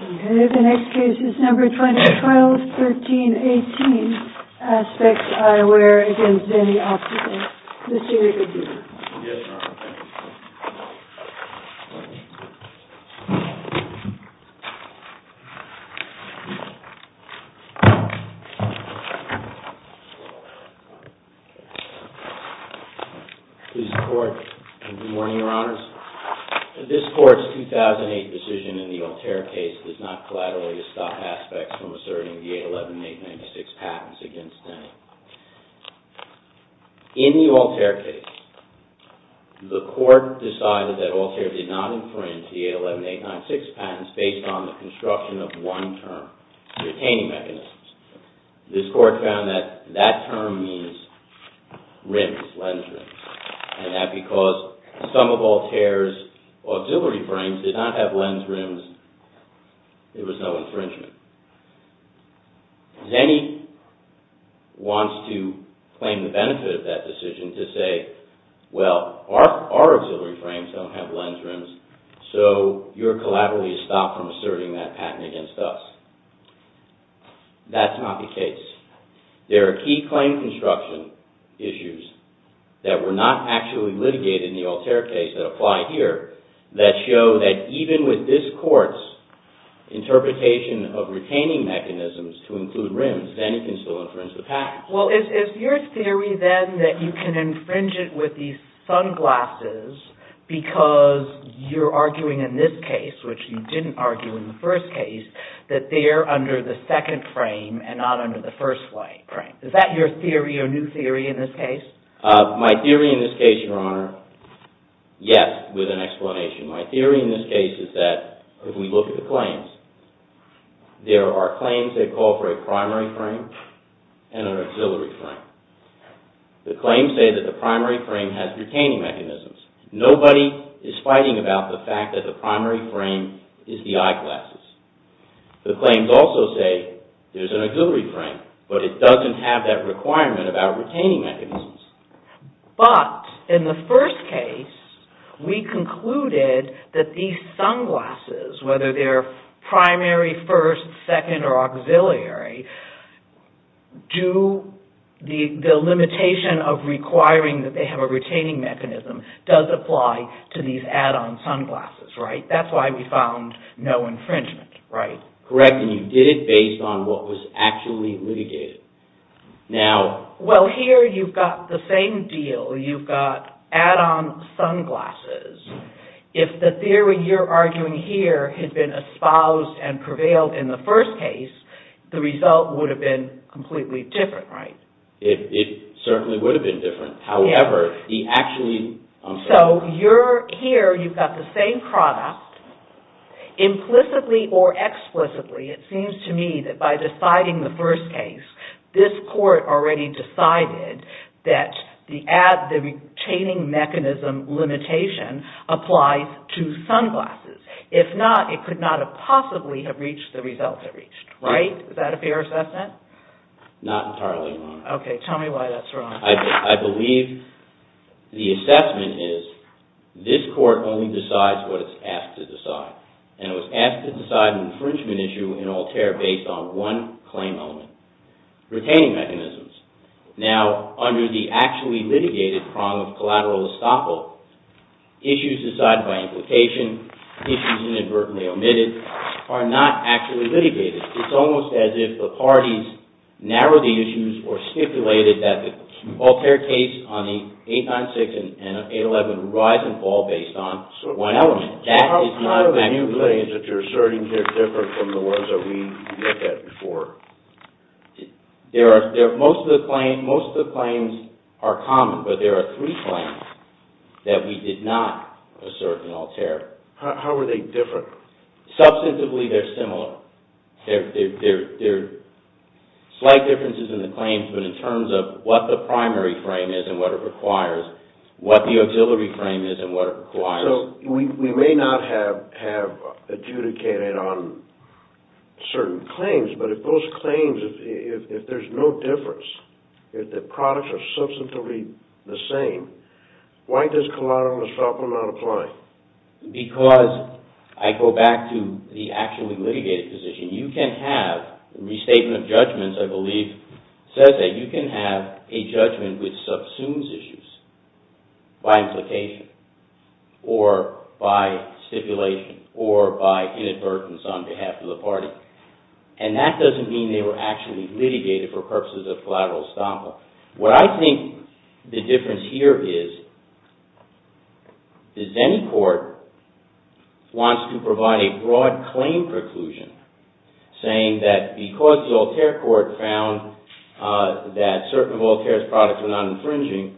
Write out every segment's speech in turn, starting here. Okay, the next case is number 2012-13-18, ASPEX EYEWEAR v. ZENNI OPTICAL. Mr. Reuben. Yes, Your Honor. Please report. Good morning, Your Honors. This Court's 2008 decision in the Altair case does not collaterally to stop ASPEX from asserting the 811-896 patents against Zenni. In the Altair case, the Court decided that Altair did not infringe the 811-896 patents based on the construction of one term, retaining mechanisms. This Court found that that term means rims, lens rims, and that because some of Altair's auxiliary frames did not have lens rims, there was no infringement. Zenni wants to claim the benefit of that decision to say, well, our auxiliary frames don't have lens rims, so you're collaterally to stop from asserting that patent against us. That's not the case. There are key claim construction issues that were not actually litigated in the Altair case that apply here that show that even with this Court's interpretation of retaining mechanisms to include rims, Zenni can still infringe the patents. Well, is your theory then that you can infringe it with these sunglasses because you're arguing in this case, which you didn't argue in the first case, that they're under the second frame and not under the first frame? Is that your theory or new theory in this case? My theory in this case, Your Honor, yes, with an explanation. My theory in this case is that if we look at the claims, there are claims that call for a primary frame and an auxiliary frame. The claims say that the primary frame has retaining mechanisms. Nobody is fighting about the fact that the primary frame is the eyeglasses. The claims also say there's an auxiliary frame, but it doesn't have that requirement about retaining mechanisms. But in the first case, we concluded that these sunglasses, whether they're primary, first, second, or auxiliary, the limitation of requiring that they have a retaining mechanism does apply to these add-on sunglasses. That's why we found no infringement. Correct, and you did it based on what was actually litigated. Well, here you've got the same deal. You've got add-on sunglasses. If the theory you're arguing here had been espoused and prevailed in the first case, the result would have been completely different, right? It certainly would have been different. However, the actually... So, here you've got the same product. Implicitly or explicitly, it seems to me that by deciding the first case, this court already decided that the retaining mechanism limitation applies to sunglasses. If not, it could not have possibly have reached the results it reached, right? Is that a fair assessment? Not entirely wrong. Okay, tell me why that's wrong. I believe the assessment is this court only decides what it's asked to decide, and it was asked to decide an infringement issue in Altair based on one claim element, retaining mechanisms. Now, under the actually litigated prong of collateral estoppel, issues decided by implication, issues inadvertently omitted, are not actually litigated. It's almost as if the parties narrowed the issues or stipulated that the Altair case on the 896 and 811 rise and fall based on one element. So, how do the new claims that you're asserting here differ from the ones that we looked at before? Most of the claims are common, but there are three claims that we did not assert in Altair. How are they different? Substantively, they're similar. There are slight differences in the claims, but in terms of what the primary frame is and what it requires, what the auxiliary frame is and what it requires... So, we may not have adjudicated on certain claims, but if those claims, if there's no difference, if the products are substantively the same, why does collateral estoppel not apply? Because, I go back to the actually litigated position, you can have a restatement of judgments, I believe, says that you can have a judgment which subsumes issues by implication or by stipulation or by inadvertence on behalf of the party. And that doesn't mean they were actually litigated for purposes of collateral estoppel. What I think the difference here is, the Zenni Court wants to provide a broad claim preclusion, saying that because the Altair Court found that certain of Altair's products were not infringing,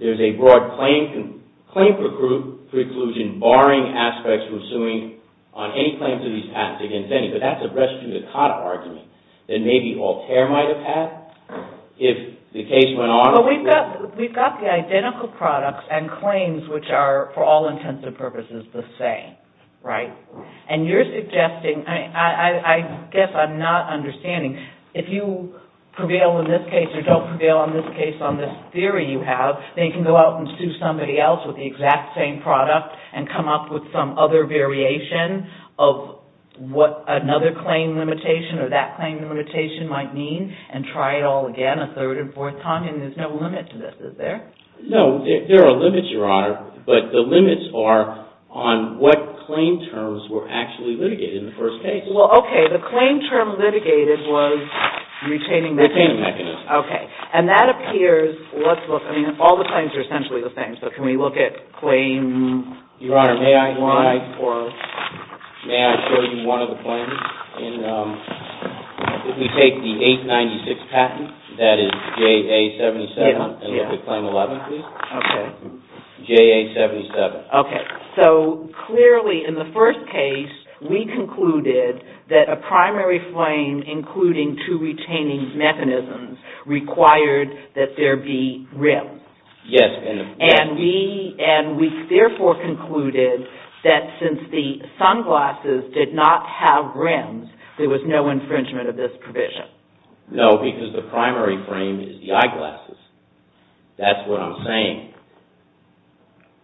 there's a broad claim preclusion barring aspects from suing on any claims of these patents against Zenni. But that's a res judicata argument that maybe Altair might have had if the case went on... We've got the identical products and claims which are, for all intents and purposes, the same, right? And you're suggesting, I guess I'm not understanding, if you prevail in this case or don't prevail in this case on this theory you have, then you can go out and sue somebody else with the exact same product and come up with some other variation of what another claim limitation or that claim limitation might mean and try it all again a third and fourth time and there's no limit to this, is there? No, there are limits, Your Honor, but the limits are on what claim terms were actually litigated in the first case. Well, okay, the claim term litigated was retaining the... Retaining the mechanism. Okay. And that appears, let's look, I mean, all the claims are essentially the same, so can we look at claims... Okay. JA-77. Okay. So, clearly, in the first case, we concluded that a primary frame, including two retaining mechanisms, required that there be rims. Yes. And we, therefore, concluded that since the sunglasses did not have rims, there was no infringement of this provision. No, because the primary frame is the eyeglasses. That's what I'm saying.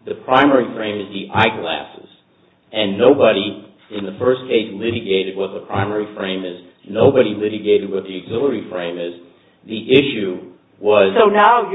The primary frame is the eyeglasses and nobody in the first case litigated what the primary frame is, nobody litigated what the auxiliary frame is. The issue was... I'm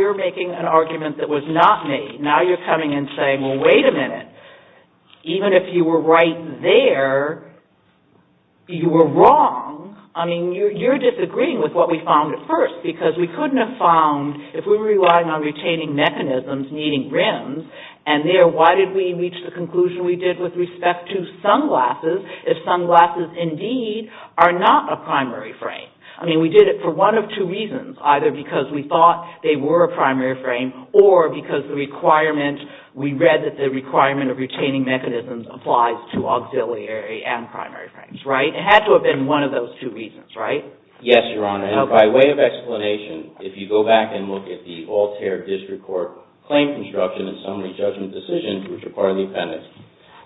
disagreeing with what we found at first, because we couldn't have found, if we were relying on retaining mechanisms needing rims, and there, why did we reach the conclusion we did with respect to sunglasses, if sunglasses, indeed, are not a primary frame? I mean, we did it for one of two reasons, either because we thought they were a primary frame, or because the requirement, we read that the requirement of retaining mechanisms applies to auxiliary and primary frames, right? It had to have been one of those two reasons, right? Yes, Your Honor, and by way of explanation, if you go back and look at the Altair District Court Claim Construction and Summary Judgment Decisions, which are part of the appendix,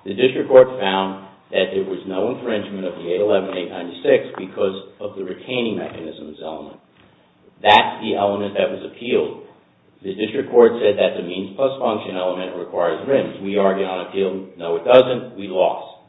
the district court found that there was no infringement of the 811-896 because of the retaining mechanisms element. That's the element that was appealed. The district court said that the means plus function element requires rims. We argued on appeal, no it doesn't, we lost.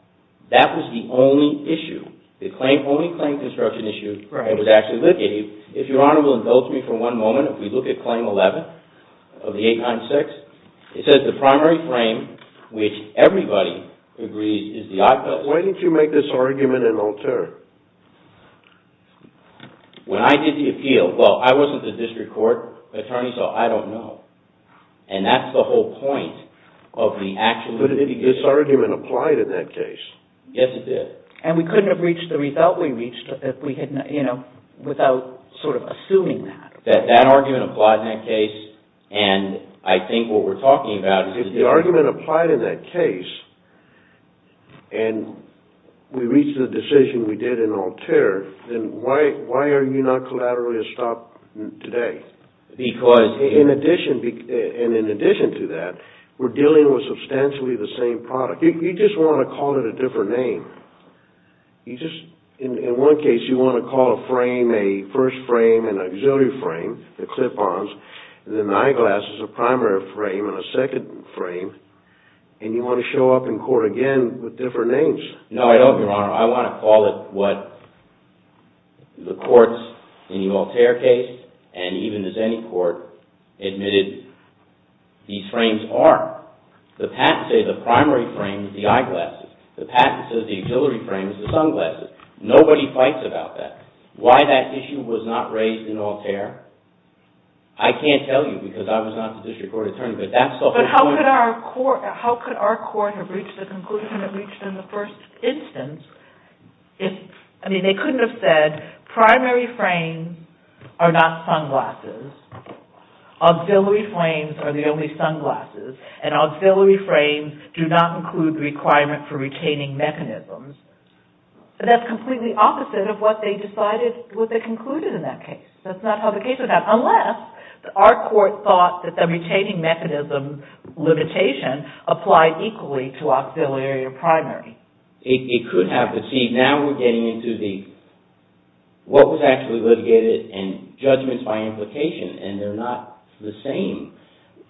That was the only issue, the only claim construction issue that was actually looked at. If Your Honor will indulge me for one moment, if we look at Claim 11 of the 896, it says the primary frame, which everybody agrees, is the eyepiece. Why didn't you make this argument in Altair? When I did the appeal, well, I wasn't the district court attorney, so I don't know, and that's the whole point of the action. Well, but this argument applied in that case. Yes, it did. And we couldn't have reached the result we reached without sort of assuming that. That argument applied in that case, and I think what we're talking about is... If the argument applied in that case, and we reached the decision we did in Altair, then why are you not collaterally a stop today? Because... And in addition to that, we're dealing with substantially the same product. You just want to call it a different name. In one case, you want to call a frame a first frame and auxiliary frame, the clip-ons, and the eyeglasses a primary frame and a second frame, and you want to show up in court again with different names. No, I don't, Your Honor. I want to call it what the courts in the Altair case and even as any court admitted these frames are. The patent says the primary frame is the eyeglasses. The patent says the auxiliary frame is the sunglasses. Nobody fights about that. Why that issue was not raised in Altair, I can't tell you because I was not the district court attorney, but that's the whole point. But how could our court have reached the conclusion it reached in the first instance if... I mean, they couldn't have said primary frames are not sunglasses, auxiliary frames are the only sunglasses, and auxiliary frames do not include the requirement for retaining mechanisms. That's completely opposite of what they concluded in that case. That's not how the case went down, unless our court thought that the retaining mechanism limitation applied equally to auxiliary or primary. It could have, but see, now we're getting into what was actually litigated and judgments by implication, and they're not the same.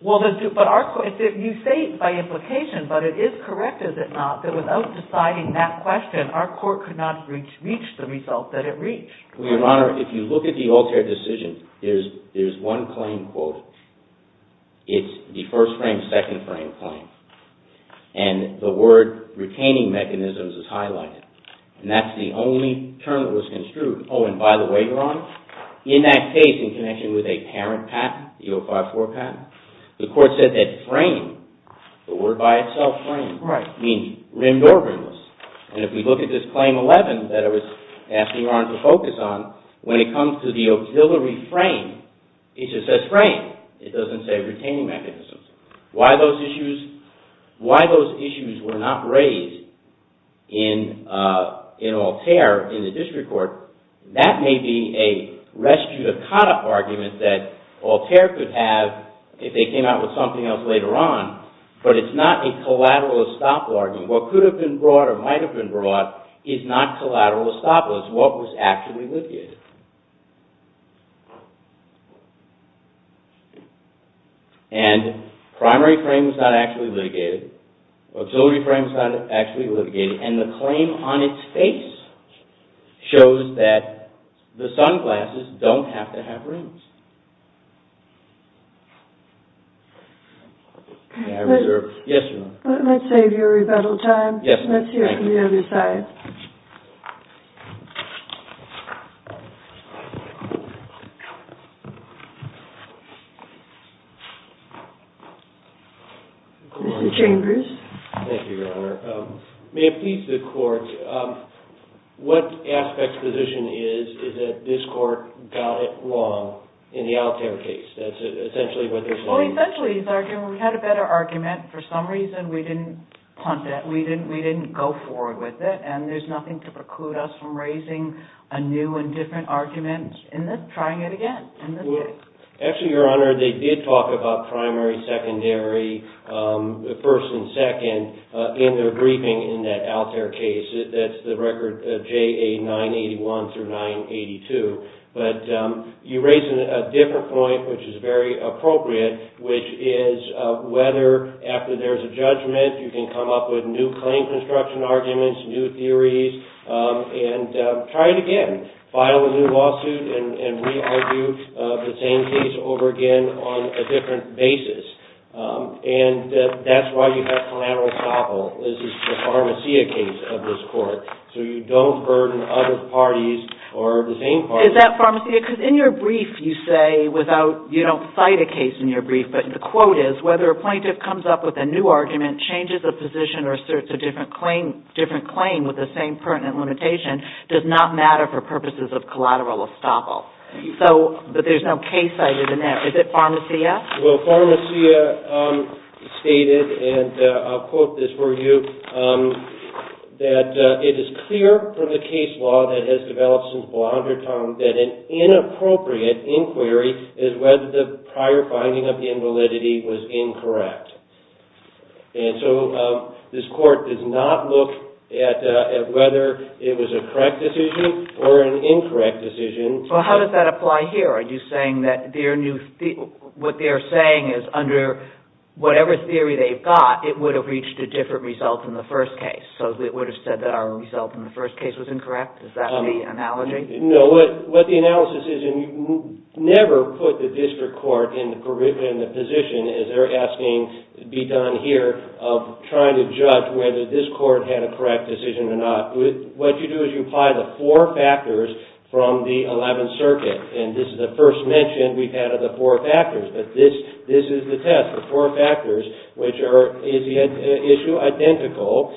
You say by implication, but it is correct, is it not, that without deciding that question, our court could not reach the result that it reached. Well, Your Honor, if you look at the Altair decision, there's one claim quote. It's the first frame, second frame claim, and the word retaining mechanisms is highlighted, and that's the only term that was construed. Oh, and by the way, Your Honor, in that case, in connection with a parent patent, the 054 patent, the court said that frame, the word by itself frame, means rimmed or rimless. And if we look at this claim 11 that I was asking Your Honor to focus on, when it comes to the auxiliary frame, it just says frame. It doesn't say retaining mechanisms. Why those issues were not raised in Altair in the district court, that may be a res judicata argument that Altair could have if they came out with something else later on, but it's not a collateral estoppel argument. What could have been brought or might have been brought is not collateral estoppel. It's what was actually litigated. And primary frame is not actually litigated. Auxiliary frame is not actually litigated. And the claim on its face shows that the sunglasses don't have to have rims. May I reserve? Yes, Your Honor. Let's save your rebuttal time. Let's hear from the other side. Mr. Chambers. Thank you, Your Honor. May it please the court, what aspect's position is that this court got it wrong in the Altair case? That's essentially what they're saying. Well, essentially, we had a better argument. For some reason, we didn't punt that. We didn't go forward with it. And there's nothing to preclude us from raising a new and different argument and trying it again in this case. Actually, Your Honor, they did talk about primary, secondary, first and second in their briefing in that Altair case. That's the record JA 981 through 982. But you raise a different point, which is very appropriate, which is whether after there's a judgment, you can come up with new claim construction arguments, new theories, and try it again. File a new lawsuit and re-argue the same case over again on a different basis. And that's why you have collateral estoppel. This is the Pharmacia case of this court. So you don't burden other parties or the same parties. Is that Pharmacia? Because in your brief, you say without – you don't cite a case in your brief, but the quote is, whether a plaintiff comes up with a new argument, changes a position, or asserts a different claim with the same pertinent limitation does not matter for purposes of collateral estoppel. But there's no case cited in there. Is it Pharmacia? Well, Pharmacia stated, and I'll quote this for you, that it is clear from the case law that has developed since Blondertown that an inappropriate inquiry is whether the prior finding of invalidity was incorrect. And so this court does not look at whether it was a correct decision or an incorrect decision. Well, how does that apply here? Are you saying that their new – what they're saying is under whatever theory they've got, it would have reached a different result in the first case? So it would have said that our result in the first case was incorrect? Is that the analogy? No, what the analysis is, and you never put the district court in the position, as they're asking to be done here, of trying to judge whether this court had a correct decision or not. What you do is you apply the four factors from the 11th Circuit, and this is the first mention we've had of the four factors. But this is the test, the four factors, which are, is the issue identical?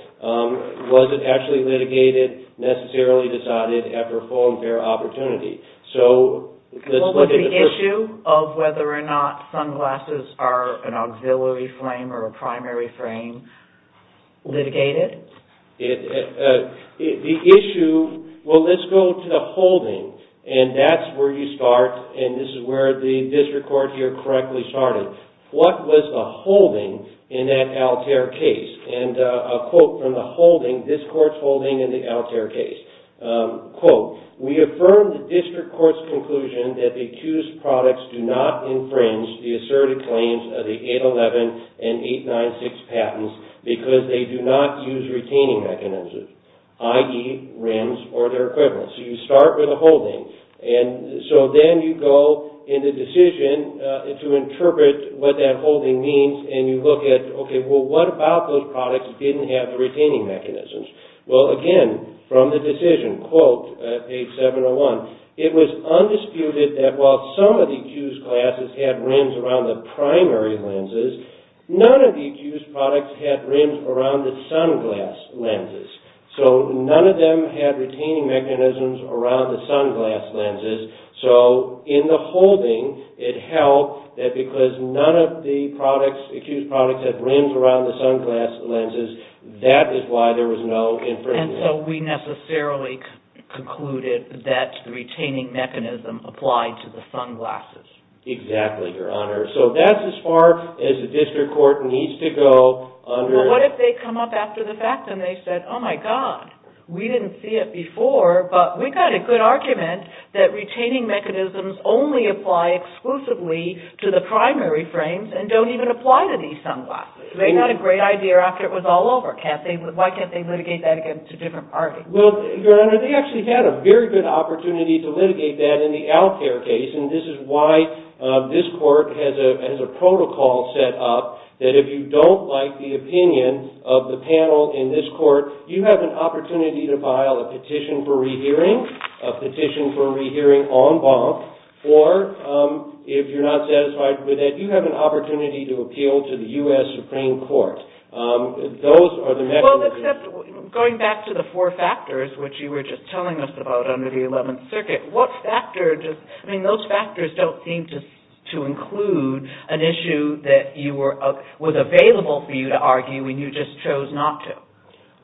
Was it actually litigated, necessarily decided after a full and fair opportunity? So let's look at the first – Well, was the issue of whether or not sunglasses are an auxiliary frame or a primary frame litigated? The issue – well, let's go to the holding, and that's where you start, and this is where the district court here correctly started. What was the holding in that Altair case? And a quote from the holding, this court's holding in the Altair case. Quote, we affirm the district court's conclusion that the accused products do not infringe the asserted claims of the 811 and 896 patents because they do not use retaining mechanisms, i.e. rims or their equivalents. So you start with a holding, and so then you go in the decision to interpret what that holding means, and you look at, okay, well, what about those products didn't have the retaining mechanisms? Well, again, from the decision, quote, page 701, it was undisputed that while some of the accused glasses had rims around the primary lenses, none of the accused products had rims around the sunglass lenses. So none of them had retaining mechanisms around the sunglass lenses, so in the holding, it held that because none of the products, accused products, had rims around the sunglass lenses, that is why there was no infringement. And so we necessarily concluded that the retaining mechanism applied to the sunglasses. Exactly, Your Honor. So that's as far as the district court needs to go under – But what if they come up after the fact and they said, oh, my God, we didn't see it before, but we got a good argument that retaining mechanisms only apply exclusively to the primary frames and don't even apply to these sunglasses. It's not a great idea after it was all over. Why can't they litigate that against a different party? Well, Your Honor, they actually had a very good opportunity to litigate that in the Alcare case, and this is why this court has a protocol set up that if you don't like the opinion of the panel in this court, you have an opportunity to file a petition for rehearing, a petition for rehearing en banc, or if you're not satisfied with it, you have an opportunity to appeal to the U.S. Supreme Court. Well, except going back to the four factors, which you were just telling us about under the Eleventh Circuit, what factors – I mean, those factors don't seem to include an issue that was available for you to argue and you just chose not to.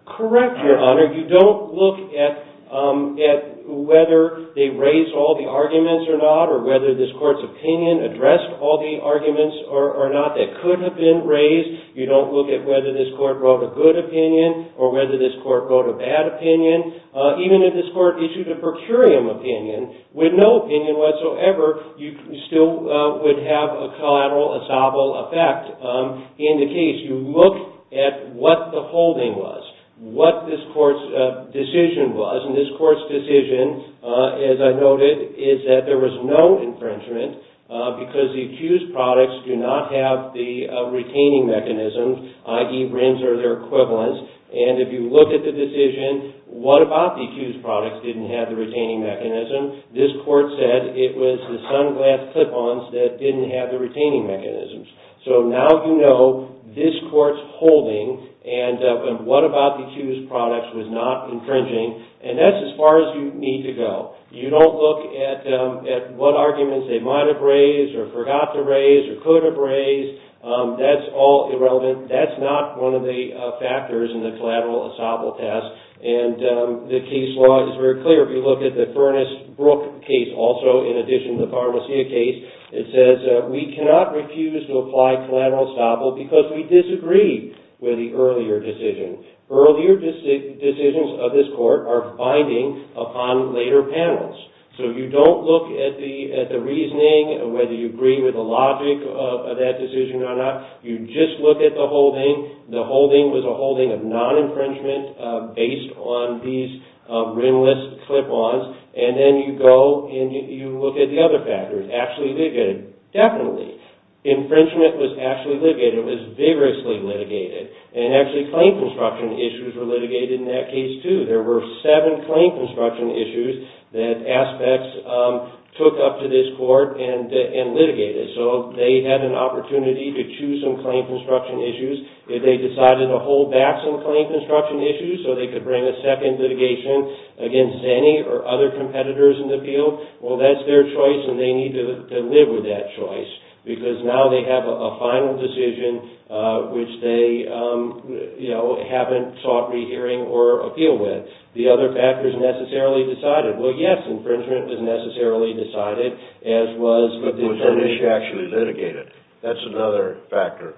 Correct, Your Honor. You don't look at whether they raised all the arguments or not or whether this court's opinion addressed all the arguments or not that could have been raised. You don't look at whether this court wrote a good opinion or whether this court wrote a bad opinion. Even if this court issued a per curiam opinion with no opinion whatsoever, you still would have a collateral, a sobble effect. In the case, you look at what the holding was, what this court's decision was, and this court's decision, as I noted, is that there was no infringement because the accused products do not have the retaining mechanism, i.e., RINs are their equivalents. And if you look at the decision, what about the accused products didn't have the retaining mechanism? This court said it was the sunglass clip-ons that didn't have the retaining mechanisms. So now you know this court's holding and what about the accused products was not infringing, and that's as far as you need to go. You don't look at what arguments they might have raised or forgot to raise or could have raised. That's all irrelevant. That's not one of the factors in the collateral, a sobble test. And the case law is very clear. If you look at the Furnace-Brook case also, in addition to the Farmacia case, it says we cannot refuse to apply collateral, a sobble because we disagree with the earlier decision. Earlier decisions of this court are binding upon later panels. So you don't look at the reasoning, whether you agree with the logic of that decision or not. You just look at the holding. The holding was a holding of non-infringement based on these RIN-less clip-ons, and then you go and you look at the other factors. Was infringement actually litigated? Definitely. Infringement was actually litigated. It was vigorously litigated. And actually, claim construction issues were litigated in that case, too. There were seven claim construction issues that aspects took up to this court and litigated. So they had an opportunity to choose some claim construction issues. If they decided to hold back some claim construction issues so they could bring a second litigation against any or other competitors in the field, well, that's their choice, and they need to live with that choice because now they have a final decision, which they haven't sought rehearing or appeal with. The other factors necessarily decided. Well, yes, infringement was necessarily decided, as was the determination. Was this issue actually litigated? That's another factor.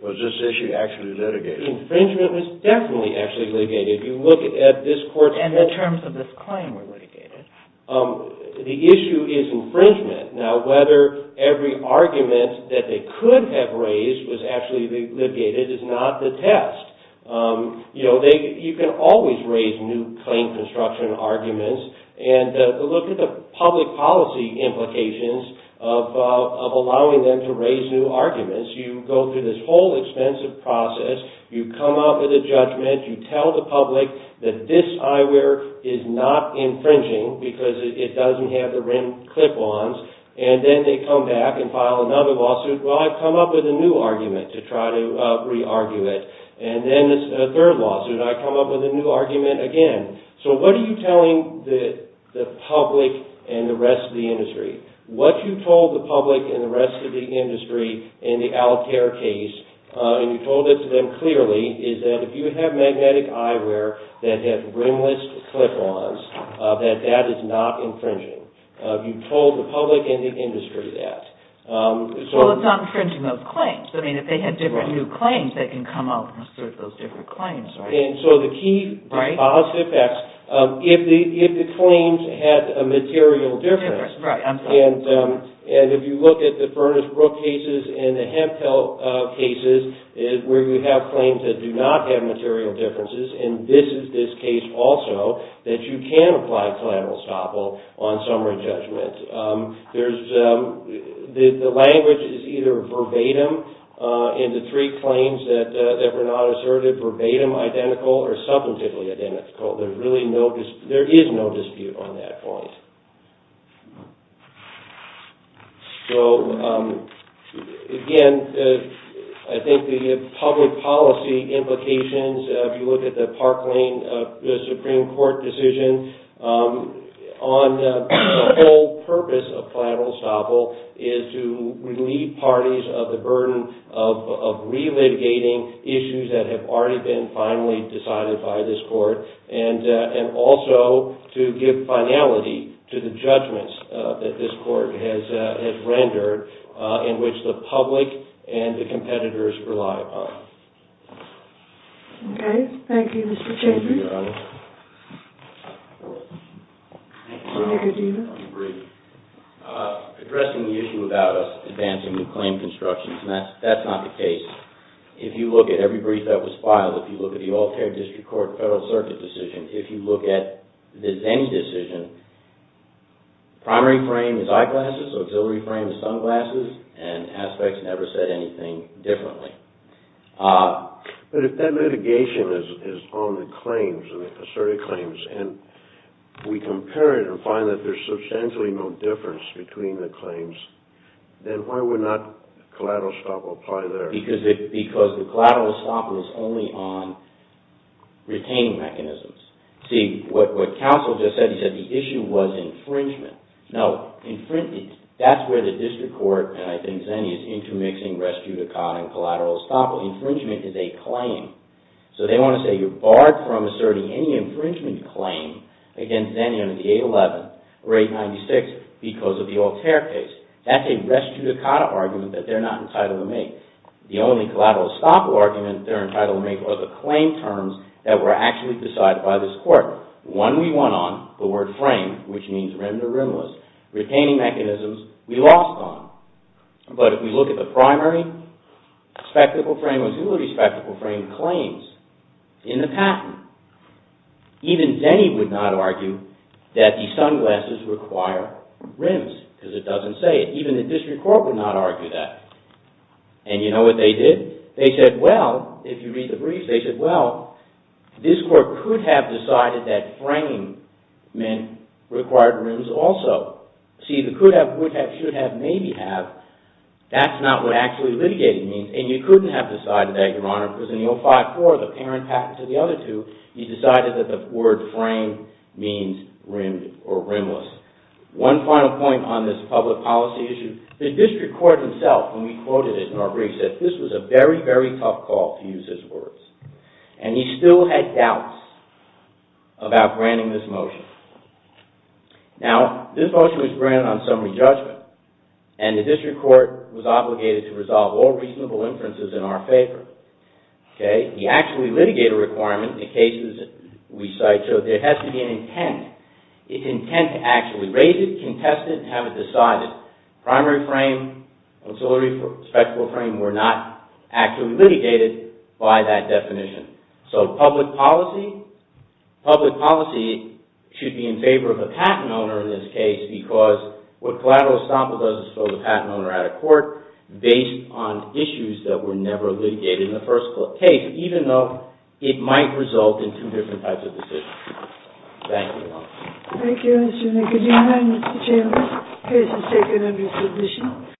Was this issue actually litigated? Infringement was definitely actually litigated. If you look at this court's... And the terms of this claim were litigated. The issue is infringement. Now, whether every argument that they could have raised was actually litigated is not the test. You can always raise new claim construction arguments. And look at the public policy implications of allowing them to raise new arguments. You go through this whole expensive process. You come up with a judgment. You tell the public that this eyewear is not infringing because it doesn't have the rim clip-ons. And then they come back and file another lawsuit. Well, I've come up with a new argument to try to re-argue it. And then a third lawsuit, I come up with a new argument again. So what are you telling the public and the rest of the industry? What you told the public and the rest of the industry in the Altair case, and you told it to them clearly, is that if you have magnetic eyewear that has rimless clip-ons, that that is not infringing. You told the public and the industry that. Well, it's not infringing those claims. I mean, if they had different new claims, they can come up and assert those different claims. And so the key positive effects, if the claims had a material difference, and if you look at the Furnace-Brook cases and the Hemphill cases where you have claims that do not have material differences, and this is this case also, that you can apply collateral estoppel on summary judgment. The language is either verbatim in the three claims that were not asserted, verbatim, identical, or substantively identical. There is no dispute on that point. So, again, I think the public policy implications, if you look at the Park Lane Supreme Court decision, on the whole purpose of collateral estoppel is to relieve parties of the burden of relitigating issues that have already been finally decided by this court, and also to give finality to the judgments that this court has rendered in which the public and the competitors rely upon. Okay. Thank you, Mr. Chambers. Thank you, Your Honor. Thank you, Your Honor. Thank you, Dena. I agree. Addressing the issue about us advancing new claim constructions, that's not the case. If you look at every brief that was filed, if you look at the Altair District Court Federal Circuit decision, if you look at any decision, the primary frame is eyeglasses, the auxiliary frame is sunglasses, and aspects never said anything differently. But if that litigation is on the claims, the asserted claims, and we compare it and find that there's substantially no difference between the claims, then why would not collateral estoppel apply there? Because the collateral estoppel is only on retaining mechanisms. See, what counsel just said, he said the issue was infringement. No, that's where the district court, and I think Zenni, is intermixing res judicata and collateral estoppel. Infringement is a claim. So they want to say you're barred from asserting any infringement claim against Zenni under the 811 or 896 because of the Altair case. That's a res judicata argument that they're not entitled to make. The only collateral estoppel argument they're entitled to make are the claim terms that were actually decided by this court. One we won on, the word frame, which means rimmed or rimless, retaining mechanisms we lost on. But if we look at the primary spectacle frame, the auxiliary spectacle frame claims in the patent, even Zenni would not argue that the sunglasses require rims because it doesn't say it. Even the district court would not argue that. And you know what they did? They said, well, if you read the brief, they said, well, this court could have decided that frame meant required rims also. See, the could have, would have, should have, maybe have, that's not what actually litigating means. And you couldn't have decided that, Your Honor, because in the 054, the parent patent to the other two, you decided that the word frame means rimmed or rimless. One final point on this public policy issue. The district court himself, when we quoted it in our brief, said this was a very, very tough call, to use his words. And he still had doubts about granting this motion. Now, this motion was granted on summary judgment, and the district court was obligated to resolve all reasonable inferences in our favor. He actually litigated a requirement in cases we cite, so there has to be an intent. It's intent to actually raise it, contest it, and have it decided. Conciliary frame, conciliary respectable frame were not actually litigated by that definition. So, public policy, public policy should be in favor of the patent owner in this case, because what collateral estoppel does is throw the patent owner out of court, based on issues that were never litigated in the first case, even though it might result in two different types of decisions. Thank you, Your Honor. Thank you, Mr. McGill. Your Honor, Mr. Chairman, this case is taken under tradition.